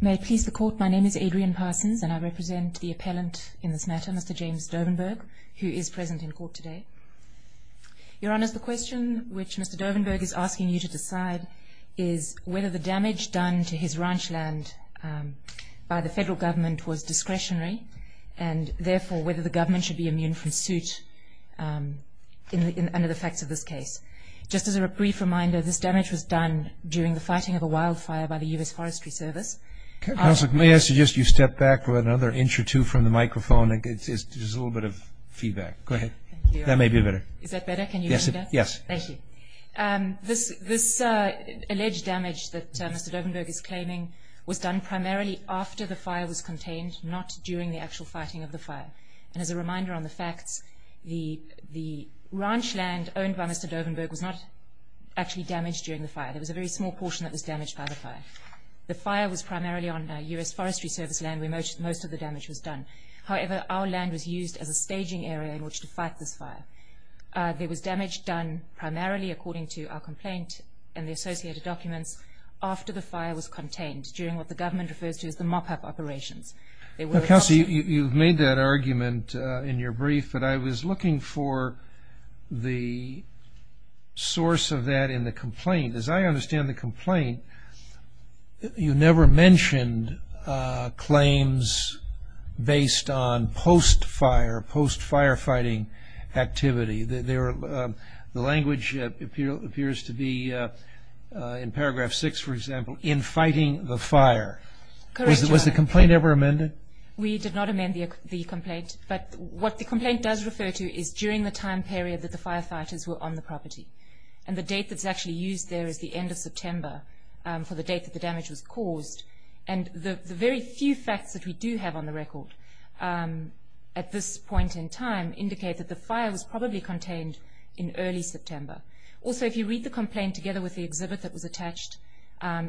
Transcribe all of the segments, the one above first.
May it please the Court, my name is Adrian Parsons and I represent the appellant in this matter, Mr. James Dovenberg, who is present in court today. Your Honours, the question which Mr. Dovenberg is asking you to decide is whether the damage done to his ranch land by the federal government was discretionary and therefore whether the government should be immune from suit under the facts of this case. Just as a brief reminder, this damage was done during the fighting of a wildfire by the U.S. Forestry Service. Counsel, may I suggest you step back another inch or two from the microphone. It's just a little bit of feedback. Go ahead. That may be better. Is that better? Can you hear me now? Yes. Thank you. This alleged damage that Mr. Dovenberg is claiming was done primarily after the fire was contained, not during the actual fighting of the fire. And as a reminder on the facts, the ranch land owned by Mr. Dovenberg was not actually damaged during the fire. There was a very small portion that was damaged by the fire. The fire was primarily on U.S. Forestry Service land where most of the damage was done. However, our land was used as a staging area in which to fight this fire. There was damage done primarily according to our complaint and the associated documents after the fire was contained, during what the government refers to as the mop-up operations. Counsel, you've made that argument in your brief, but I was looking for the source of that in the complaint. As I understand the complaint, you never mentioned claims based on post-fire, post-firefighting activity. The language appears to be in paragraph 6, for example, in fighting the fire. Correct, Your Honor. Was the complaint ever amended? We did not amend the complaint, but what the complaint does refer to is during the time period that the firefighters were on the property. And the date that's actually used there is the end of September for the date that the damage was caused. And the very few facts that we do have on the record at this point in time indicate that the fire was probably contained in early September. Also, if you read the complaint together with the exhibit that was attached,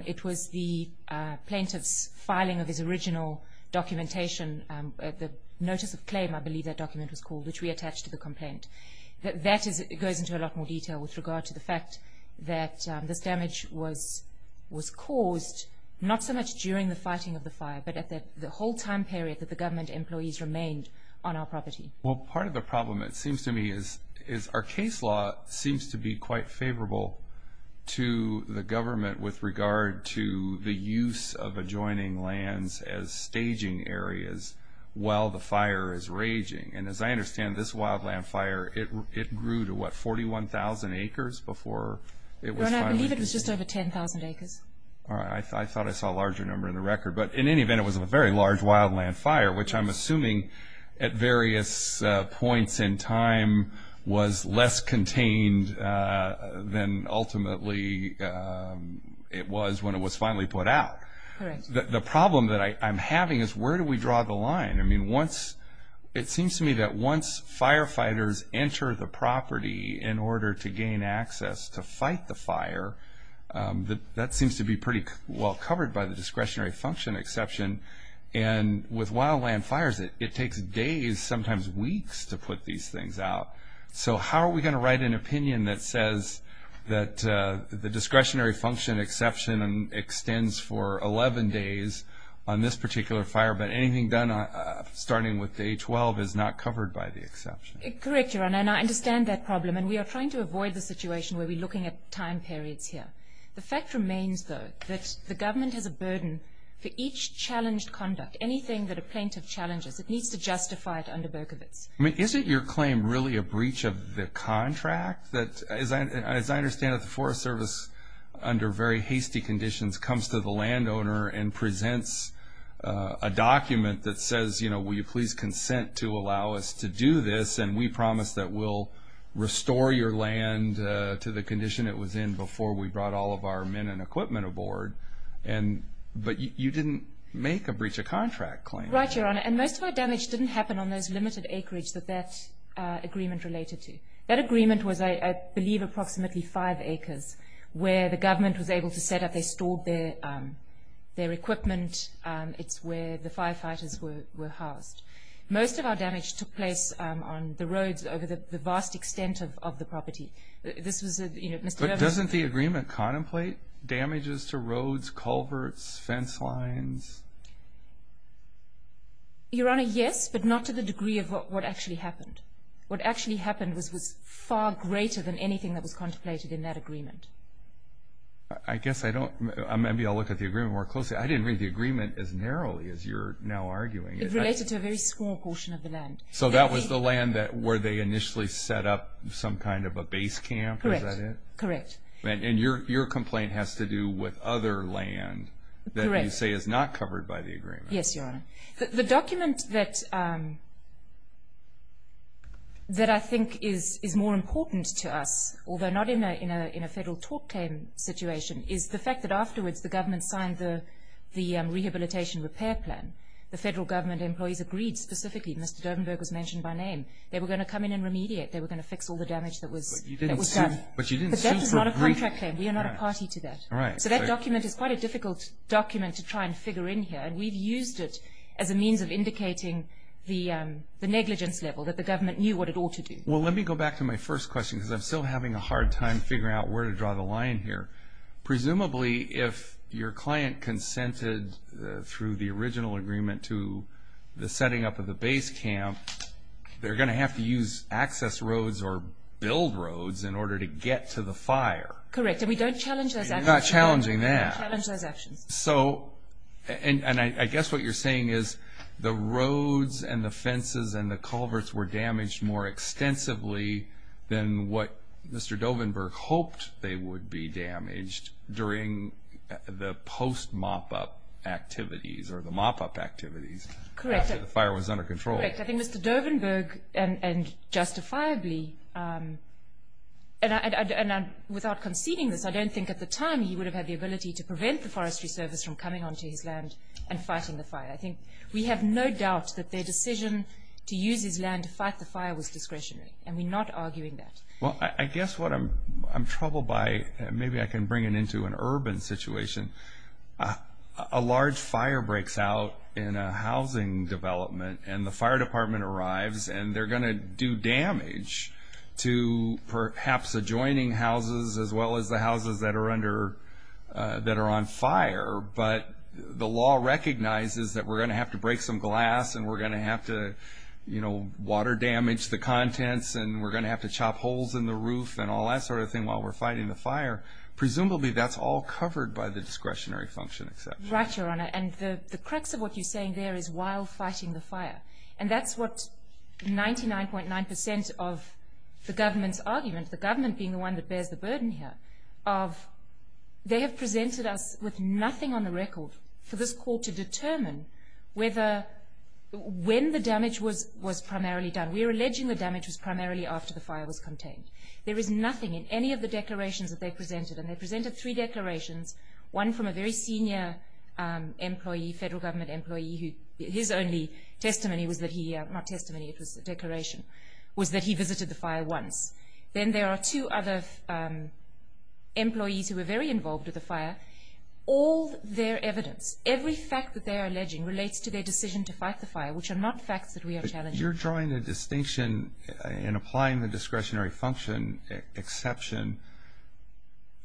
it was the plaintiff's filing of his original documentation, the notice of claim, that goes into a lot more detail with regard to the fact that this damage was caused not so much during the fighting of the fire, but at the whole time period that the government employees remained on our property. Well, part of the problem, it seems to me, is our case law seems to be quite favorable to the government with regard to the use of adjoining lands as staging areas while the fire is raging. And as I understand, this wildland fire, it grew to, what, 41,000 acres before it was finally... No, no, I believe it was just over 10,000 acres. All right, I thought I saw a larger number in the record. But in any event, it was a very large wildland fire, which I'm assuming at various points in time was less contained than ultimately it was when it was finally put out. Correct. The problem that I'm having is where do we draw the line? I mean, it seems to me that once firefighters enter the property in order to gain access to fight the fire, that seems to be pretty well covered by the discretionary function exception. And with wildland fires, it takes days, sometimes weeks, to put these things out. So how are we going to write an opinion that says that the discretionary function exception extends for 11 days on this particular fire, but anything done starting with day 12 is not covered by the exception? Correct, Your Honor, and I understand that problem. And we are trying to avoid the situation where we're looking at time periods here. The fact remains, though, that the government has a burden for each challenged conduct. Anything that a plaintiff challenges, it needs to justify it under Berkovitz. I mean, isn't your claim really a breach of the contract? As I understand it, the Forest Service, under very hasty conditions, comes to the landowner and presents a document that says, you know, will you please consent to allow us to do this and we promise that we'll restore your land to the condition it was in before we brought all of our men and equipment aboard. But you didn't make a breach of contract claim. Right, Your Honor, and most of our damage didn't happen on those limited acreage that that agreement related to. That agreement was, I believe, approximately five acres where the government was able to set up. They stored their equipment. It's where the firefighters were housed. Most of our damage took place on the roads over the vast extent of the property. This was, you know, Mr. Berkovitz... But doesn't the agreement contemplate damages to roads, culverts, fence lines? Your Honor, yes, but not to the degree of what actually happened. What actually happened was far greater than anything that was contemplated in that agreement. I guess I don't... Maybe I'll look at the agreement more closely. I didn't read the agreement as narrowly as you're now arguing. It related to a very small portion of the land. So that was the land where they initially set up some kind of a base camp, is that it? Correct, correct. And your complaint has to do with other land that you say is not covered by the agreement. Yes, Your Honor. The document that I think is more important to us, although not in a federal tort claim situation, is the fact that afterwards the government signed the rehabilitation repair plan. The federal government employees agreed specifically. Mr. Durdenberg was mentioned by name. They were going to come in and remediate. They were going to fix all the damage that was done. But you didn't seem to agree... But that is not a contract claim. We are not a party to that. So that document is quite a difficult document to try and figure in here. And we've used it as a means of indicating the negligence level, that the government knew what it ought to do. Well, let me go back to my first question, because I'm still having a hard time figuring out where to draw the line here. Presumably, if your client consented through the original agreement to the setting up of the base camp, they're going to have to use access roads or build roads in order to get to the fire. Correct. And we don't challenge those actions. You're not challenging that. We don't challenge those actions. So, and I guess what you're saying is the roads and the fences and the culverts were damaged more extensively than what Mr. Dovenberg hoped they would be damaged during the post-mop-up activities or the mop-up activities after the fire was under control. Correct. I think Mr. Dovenberg, and justifiably, and without conceding this, I don't think at the time he would have had the ability to prevent the Forestry Service from coming onto his land and fighting the fire. I think we have no doubt that their decision to use his land to fight the fire was discretionary, and we're not arguing that. Well, I guess what I'm troubled by, and maybe I can bring it into an urban situation, a large fire breaks out in a housing development and the fire department arrives, and they're going to do damage to perhaps adjoining houses as well as the houses that are under, that are on fire, but the law recognizes that we're going to have to break some glass and we're going to have to, you know, water damage the contents and we're going to have to chop holes in the roof and all that sort of thing while we're fighting the fire. Presumably, that's all covered by the discretionary function exception. Right, Your Honor, and the crux of what you're saying there is while fighting the fire, and that's what 99.9% of the government's argument, the government being the one that bears the burden here, of they have presented us with nothing on the record for this court to determine whether, when the damage was primarily done. We're alleging the damage was primarily after the fire was contained. There is nothing in any of the declarations that they presented, and they presented three declarations, one from a very senior employee, federal government employee, who his only testimony was that he, not testimony, it was a declaration, was that he visited the fire once. Then there are two other employees who were very involved with the fire. All their evidence, every fact that they are alleging relates to their decision to fight the fire, which are not facts that we are challenging. But you're drawing a distinction in applying the discretionary function exception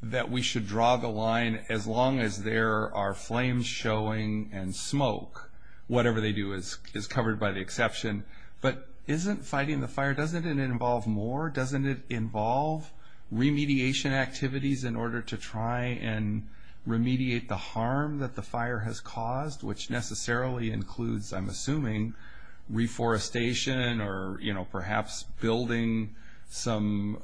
that we should draw the line as long as there are flames showing and smoke. Whatever they do is covered by the exception. But isn't fighting the fire, doesn't it involve more? Doesn't it involve remediation activities in order to try and remediate the harm that the fire has caused, which necessarily includes, I'm assuming, reforestation or perhaps building some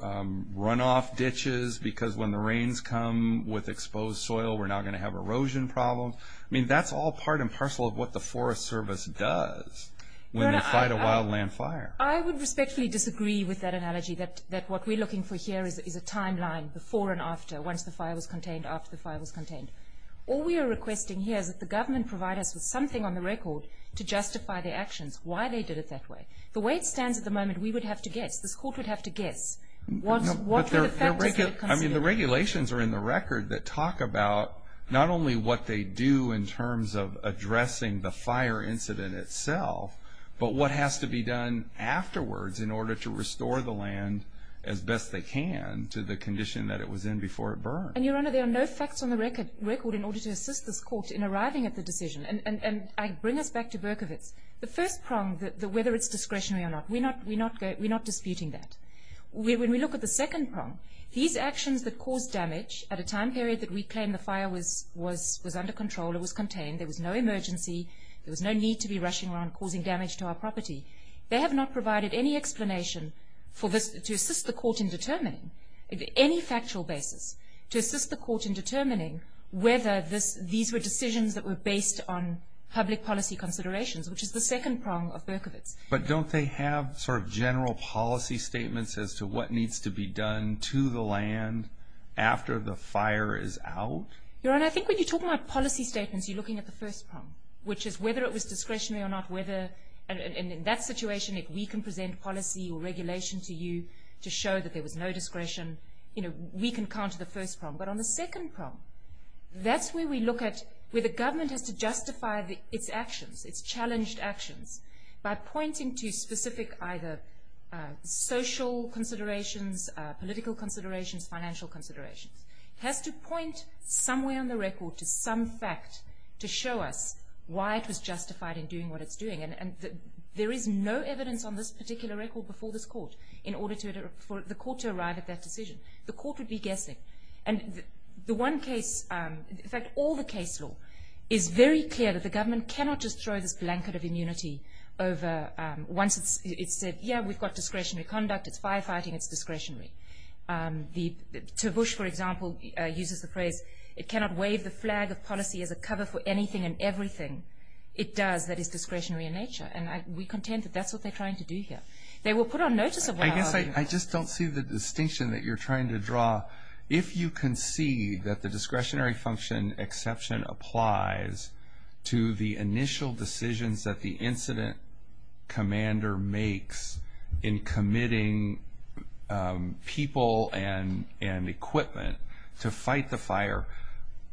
runoff ditches because when the rains come with exposed soil we're not going to have erosion problems. I mean, that's all part and parcel of what the Forest Service does when they fight a wildland fire. I would respectfully disagree with that analogy that what we're looking for here is a timeline before and after once the fire was contained, after the fire was contained. All we are requesting here is that the government provide us with something on the record to justify their actions, why they did it that way. The way it stands at the moment, we would have to guess, this court would have to guess what were the factors that it considered. I mean, the regulations are in the record that talk about not only what they do in terms of addressing the fire incident itself but what has to be done afterwards in order to restore the land as best they can to the condition that it was in before it burned. And Your Honor, there are no facts on the record in order to assist this court in arriving at the decision. And I bring us back to Berkovitz. The first prong, whether it's discretionary or not, we're not disputing that. When we look at the second prong, these actions that caused damage at a time period that we claim the fire was under control, it was contained, there was no emergency, there was no need to be rushing around causing damage to our property, they have not provided any explanation to assist the court in determining on any factual basis to assist the court in determining whether these were decisions that were based on public policy considerations which is the second prong of Berkovitz. But don't they have sort of general policy statements as to what needs to be done to the land after the fire is out? Your Honor, I think when you talk about policy statements you're looking at the first prong, which is whether it was discretionary or not, and in that situation if we can present policy or regulation to you to show that there was no discretion, we can counter the first prong. But on the second prong, that's where we look at where the government has to justify its actions, its challenged actions, by pointing to specific either social considerations, political considerations, financial considerations. It has to point somewhere on the record to some fact to show us why it was justified in doing what it's doing. There is no evidence on this particular record before this court in order for the court to arrive at that decision. The court would be guessing. In fact, all the case law is very clear that the government cannot just throw this blanket of immunity over once it's said, yeah, we've got discretionary conduct, it's firefighting, it's discretionary. To Bush, for example, uses the phrase, it cannot wave the flag of policy as a cover for anything and everything. It does. That is discretionary in nature. And we contend that that's what they're trying to do here. They will put on notice of what I argue. I just don't see the distinction that you're trying to draw. If you concede that the discretionary function exception applies to the initial decisions that the incident commander makes in committing people and equipment to fight the fire,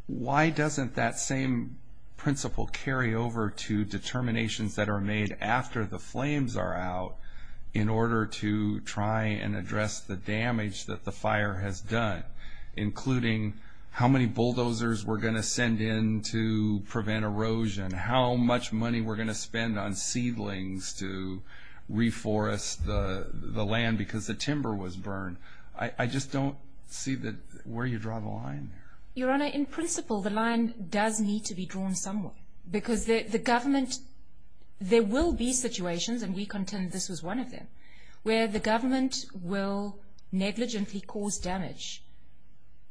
why doesn't that same principle carry over to determinations that are made after the flames are out in order to try and address the damage that the fire has done, including how many bulldozers we're going to send in to prevent erosion, how much money we're going to spend on seedlings to reforest the land because the timber was burned. I just don't see where you draw the line there. Your Honor, in principle the line does need to be drawn somewhere. Because the government there will be situations and we contend this was one of them where the government will negligently cause damage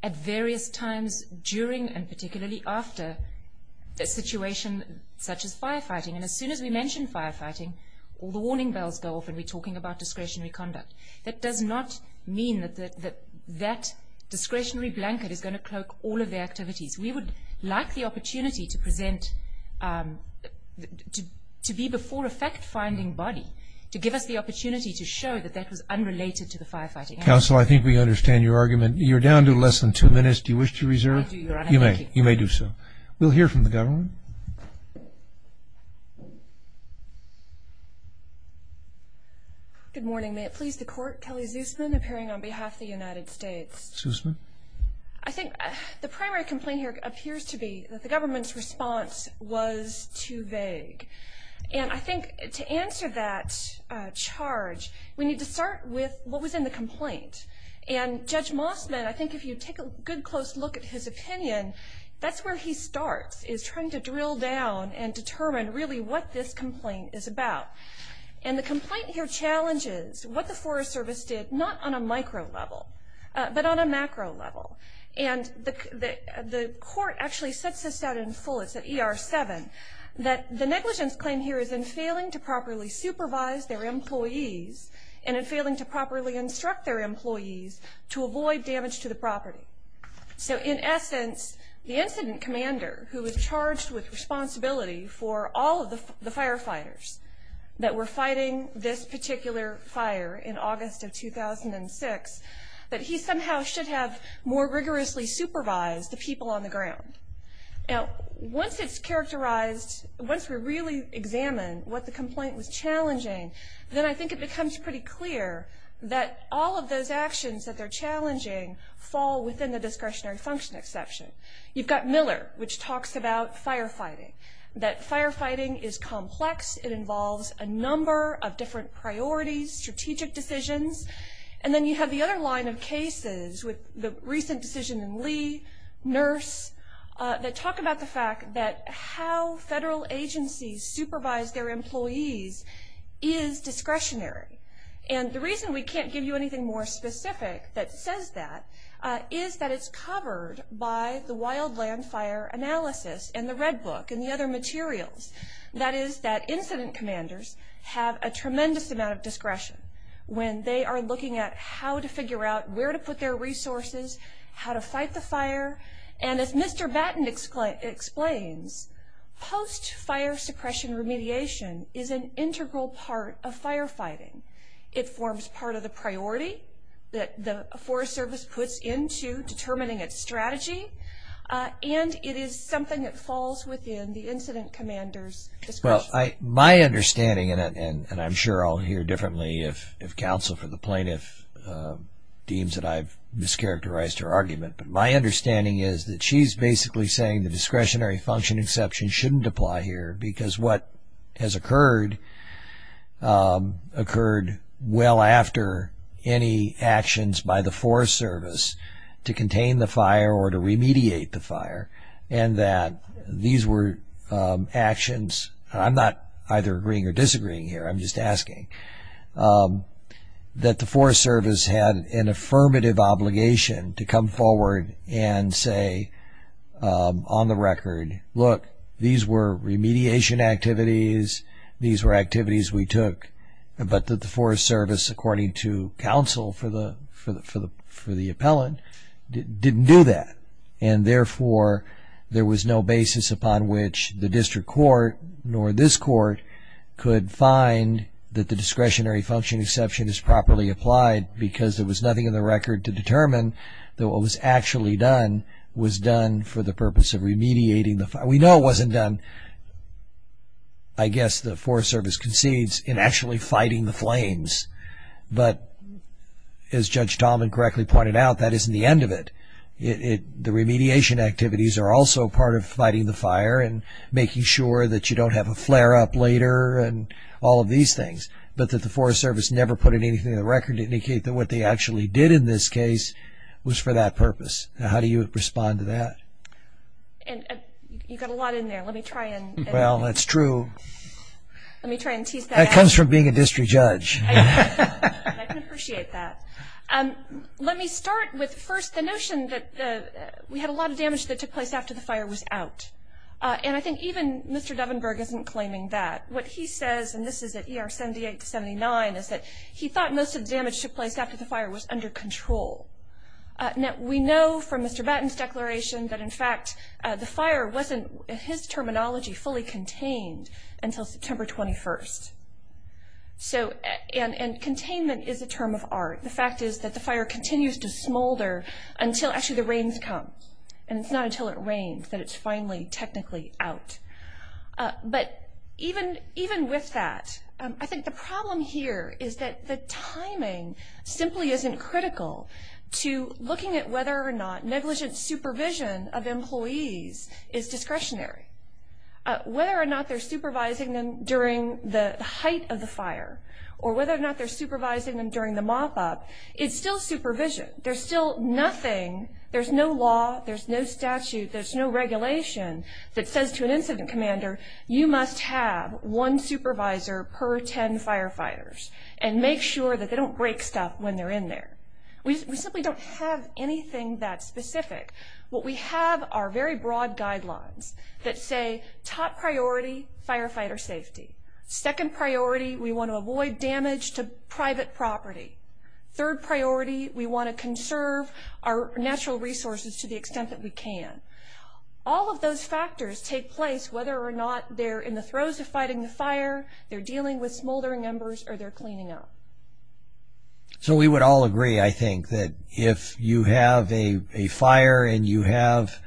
at various times during and particularly after a situation such as firefighting. And as soon as we mention firefighting, all the warning bells go off and we're talking about discretionary conduct. That does not mean that that discretionary blanket is going to cloak all of the activities. We would like the opportunity to present to be before a fact-finding body to give us the opportunity to show that that was unrelated to the firefighting. Counsel, I think we understand your argument. You're down to less than two minutes. Do you wish to reserve? I do, Your Honor. Thank you. You may do so. We'll hear from the government. Good morning. May it please the Court, Kelly Zusman, appearing on behalf of the United States. Zusman. I think the primary complaint here appears to be that the government's response was too vague. And I think to answer that charge, we need to start with what was in the complaint. And Judge Mossman, I think if you take a good close look at his opinion, that's where he starts is trying to drill down and determine really what this complaint is about. And the complaint here challenges what the Forest Service did, not on a micro level, but on a macro level. And the Court actually sets this out in full, it's at ER 7, that the negligence claim here is in failing to properly supervise their employees and in failing to properly instruct their employees to avoid damage to the property. So in essence, the incident commander, who was charged with responsibility for all of the firefighters that were fighting this particular fire in August of 2006, that he somehow should have more rigorously supervised the people on the ground. Now, once it's characterized, once we really examine what the complaint was challenging, then I think it becomes pretty clear that all of those actions that they're challenging fall within the discretionary function exception. You've got Miller, which says that firefighting is complex, it involves a number of different priorities, strategic decisions, and then you have the other line of cases with the recent decision in Lee, Nurse, that talk about the fact that how federal agencies supervise their employees is discretionary. And the reason we can't give you anything more specific that says that is that it's covered by the Wildland Fire Analysis and the Red Book and the other materials. That is that incident commanders have a tremendous amount of discretion when they are looking at how to figure out where to put their resources, how to fight the fire, and as Mr. Batten explains, post-fire suppression remediation is an integral part of firefighting. It forms part of the priority that the Forest Service puts into determining its strategy, and it is something that falls within the incident commander's discretion. Well, my understanding, and I'm sure I'll hear differently if counsel for the plaintiff deems that I've mischaracterized her argument, but my understanding is that she's basically saying the discretionary function exception shouldn't apply here because what has occurred occurred well after any actions by the Forest Service to contain the fire or to remediate the fire, and that these were actions, and I'm not agreeing or disagreeing here, I'm just asking, that the Forest Service had an affirmative obligation to come forward and say on the record, look, these were remediation activities, these were activities we took, but that the Forest Service according to counsel for the appellant didn't do that. And therefore, there was no basis upon which the district court nor this court could find that the discretionary function exception is properly applied because there was nothing in the record to determine that what was actually done was done for the purpose of remediating the fire. We know it wasn't done, I guess the Forest Service concedes, in actually fighting the as Judge Dahlman correctly pointed out, that isn't the end of it. The remediation activities are also part of fighting the fire and making sure that you don't have a flare-up later and all of these things. But that the Forest Service never put anything in the record to indicate that what they actually did in this case was for that purpose. Now how do you respond to that? And you got a lot in there, let me try and... Well, that's true. Let me try and tease that out. That comes from being a district judge. I can appreciate that. Let me start with first the notion that we had a lot of damage that took place after the fire was out. And I think even Mr. Devenberg isn't claiming that. What he says, and this is at ER 78 to 79, is that he thought most of the damage took place after the fire was under control. Now we know from Mr. Batten's declaration that in fact the fire wasn't in his terminology fully contained until September 21st. And containment is a term of art. The fact is that the fire continues to smolder until actually the rains come. And it's not until it rains that it's finally technically out. But even with that, I think the problem here is that the timing simply isn't critical to looking at whether or not negligent supervision of employees is discretionary. Whether or not they're supervising them during the height of the fire, or whether or not they're supervising them during the mop-up, it's still supervision. There's still nothing there's no law, there's no statute, there's no regulation that says to an incident commander you must have one supervisor per ten firefighters. And make sure that they don't break stuff when they're in there. We simply don't have anything that specific. What we have are very broad guidelines that say top priority, firefighter safety. Second priority, we want to avoid damage to private property. Third priority, we want to conserve our natural resources to the extent that we can. All of those factors take place whether or not they're in the throes of fighting the fire, they're dealing with smoldering embers, or they're cleaning up. So we would all agree, I think, that if you have a fire and you have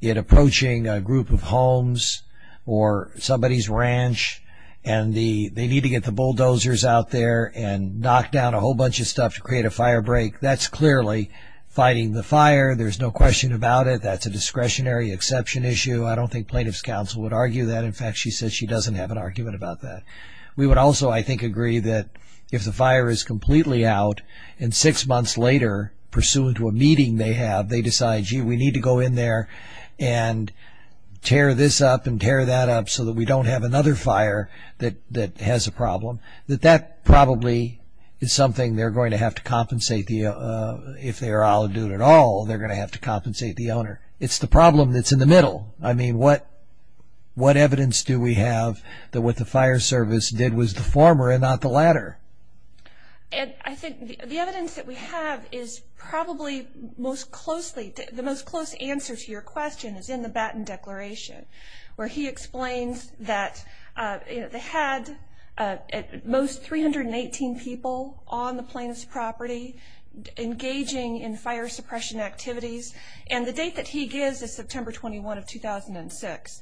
it approaching a group of homes or somebody's ranch and they need to get the bulldozers out there and knock down a whole bunch of stuff to create a fire break, that's clearly fighting the fire. There's no question about it. That's a discretionary exception issue. I don't think plaintiff's counsel would argue that. In fact, she says she doesn't have an argument about that. We would also, I think, agree that if the fire is completely out and six months later, pursuant to a meeting they have, they decide, gee, we need to go in there and tear this up and tear that up so that we don't have another fire that has a problem, that that probably is something they're going to have to compensate the owner. If they're all going to have to compensate the owner. It's the problem that's in the middle. What evidence do we have that what the fire service did was the former and not the latter? I think the evidence that we have is probably the most close answer to your question is in the Batten Declaration, where he explains that they had at most 318 people on the plaintiff's property engaging in fire suppression activities, and the date that he gives is September 21 of 2006.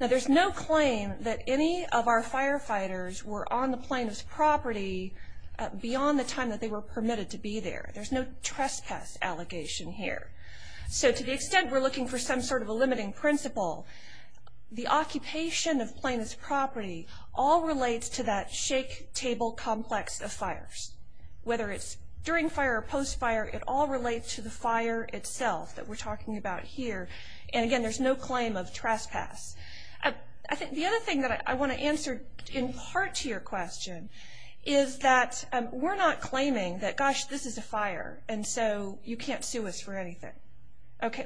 There's no claim that any of our firefighters were on the plaintiff's property beyond the time that they were permitted to be there. There's no trespass allegation here. To the extent we're looking for some sort of a limiting principle, the occupation of plaintiff's property all relates to that shake table complex of fires. Whether it's during fire or post fire, it all relates to the fire itself that we're talking about here. Again, there's no claim of trespass. The other thing that I want to answer in part to your question is that we're not claiming that, gosh, this is a fire, and so you can't sue us for anything.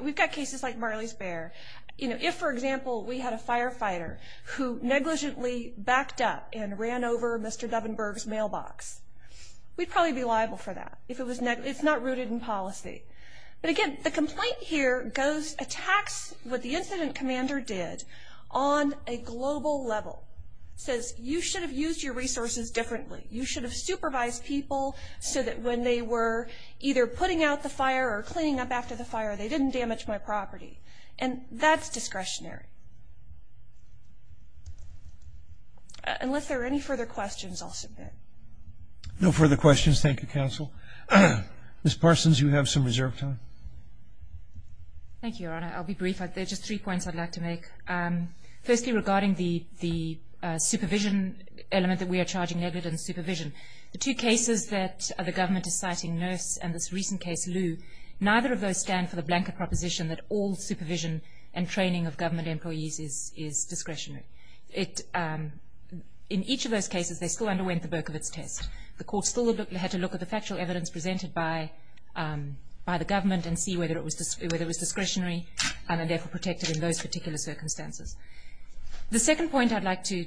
We've got cases like Marley's Bear. If, for example, we had a firefighter who negligently backed up and ran over Mr. Duvenberg's mailbox, we'd probably be liable for that. It's not rooted in policy. But again, the complaint here attacks what the incident commander did on a global level. It says, you should have used your discretion to supervise people so that when they were either putting out the fire or cleaning up after the fire, they didn't damage my property. And that's discretionary. Unless there are any further questions, I'll submit. No further questions. Thank you, counsel. Ms. Parsons, you have some reserve time. Thank you, Your Honor. I'll be brief. There are just three points I'd like to make. Firstly, regarding the cases that the government is citing, Nurse and this recent case, Lou, neither of those stand for the blanket proposition that all supervision and training of government employees is discretionary. In each of those cases, they still underwent the Burkevitz test. The court still had to look at the factual evidence presented by the government and see whether it was discretionary and therefore protected in those particular circumstances. The second point I'd like to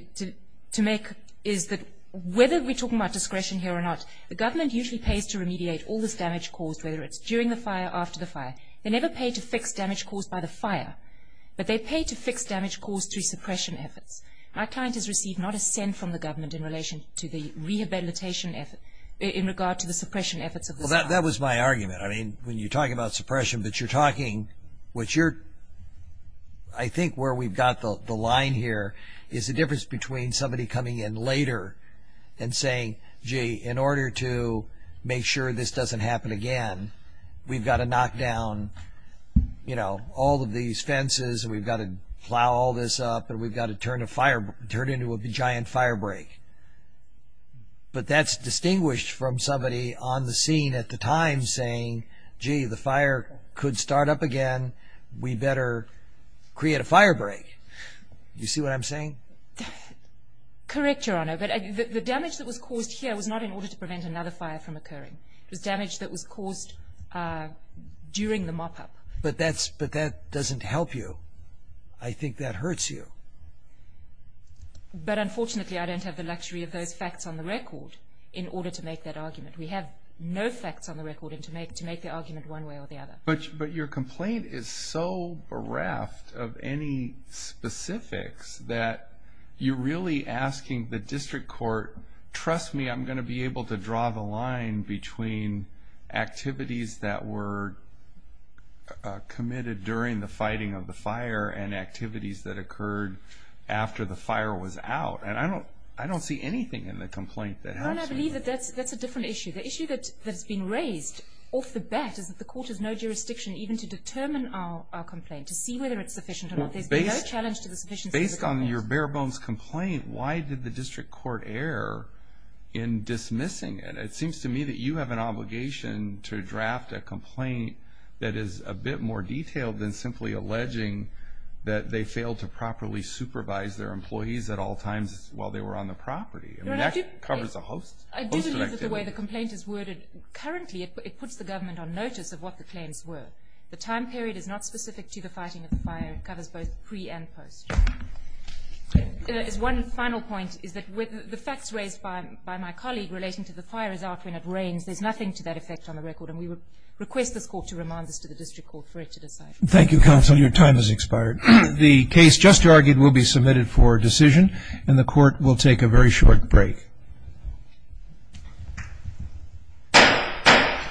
make is that whether we're talking about discretion here or not, the government usually pays to remediate all this damage caused, whether it's during the fire or after the fire. They never pay to fix damage caused by the fire, but they pay to fix damage caused through suppression efforts. My client has received not a cent from the government in relation to the rehabilitation effort in regard to the suppression efforts of the fire. Well, that was my argument. I mean, when you're talking about suppression, but you're talking what you're I think where we've got the line here is the difference between somebody coming in later and saying, gee, in order to make sure this doesn't happen again, we've got to knock down all of these fences, and we've got to plow all this up, and we've got to turn into a giant fire break. But that's distinguished from somebody on the scene at the time saying, gee, the fire could start up again. We better create a fire break. Do you see what I'm saying? Correct, Your Honor. The damage that was caused here was not in order to prevent another fire from occurring. It was damage that was caused during the mop-up. But that doesn't help you. I think that hurts you. But unfortunately, I don't have the luxury of those facts on the record in order to make that argument. We have no facts on the record to make the argument one way or the other. But your complaint is so bereft of any specifics that you're really asking the district court, trust me, I'm going to be able to draw the line between activities that were committed during the fighting of the fire and activities that occurred after the fire was out. I don't see anything in the complaint that helps you. I believe that that's a different issue. The issue that's been raised off the bat is that the court has no jurisdiction even to determine our complaint, to see whether it's sufficient or not. Based on your bare-bones complaint, why did the district court err in dismissing it? It seems to me that you have an obligation to draft a complaint that is a bit more detailed than simply alleging that they failed to properly supervise their employees at all times while they were on the property. I do believe that the way the complaint is worded currently, it puts the government on notice of what the claims were. The time period is not specific to the fighting of the fire. It covers both pre and post. One final point is that the facts raised by my colleague relating to the fire is out when it rains. There's nothing to that effect on the record, and we would request this court to remind us to the district court for it to decide. Thank you, counsel. Your time has expired. The case just argued will be submitted for decision, and the court will take a very short break. Thank you.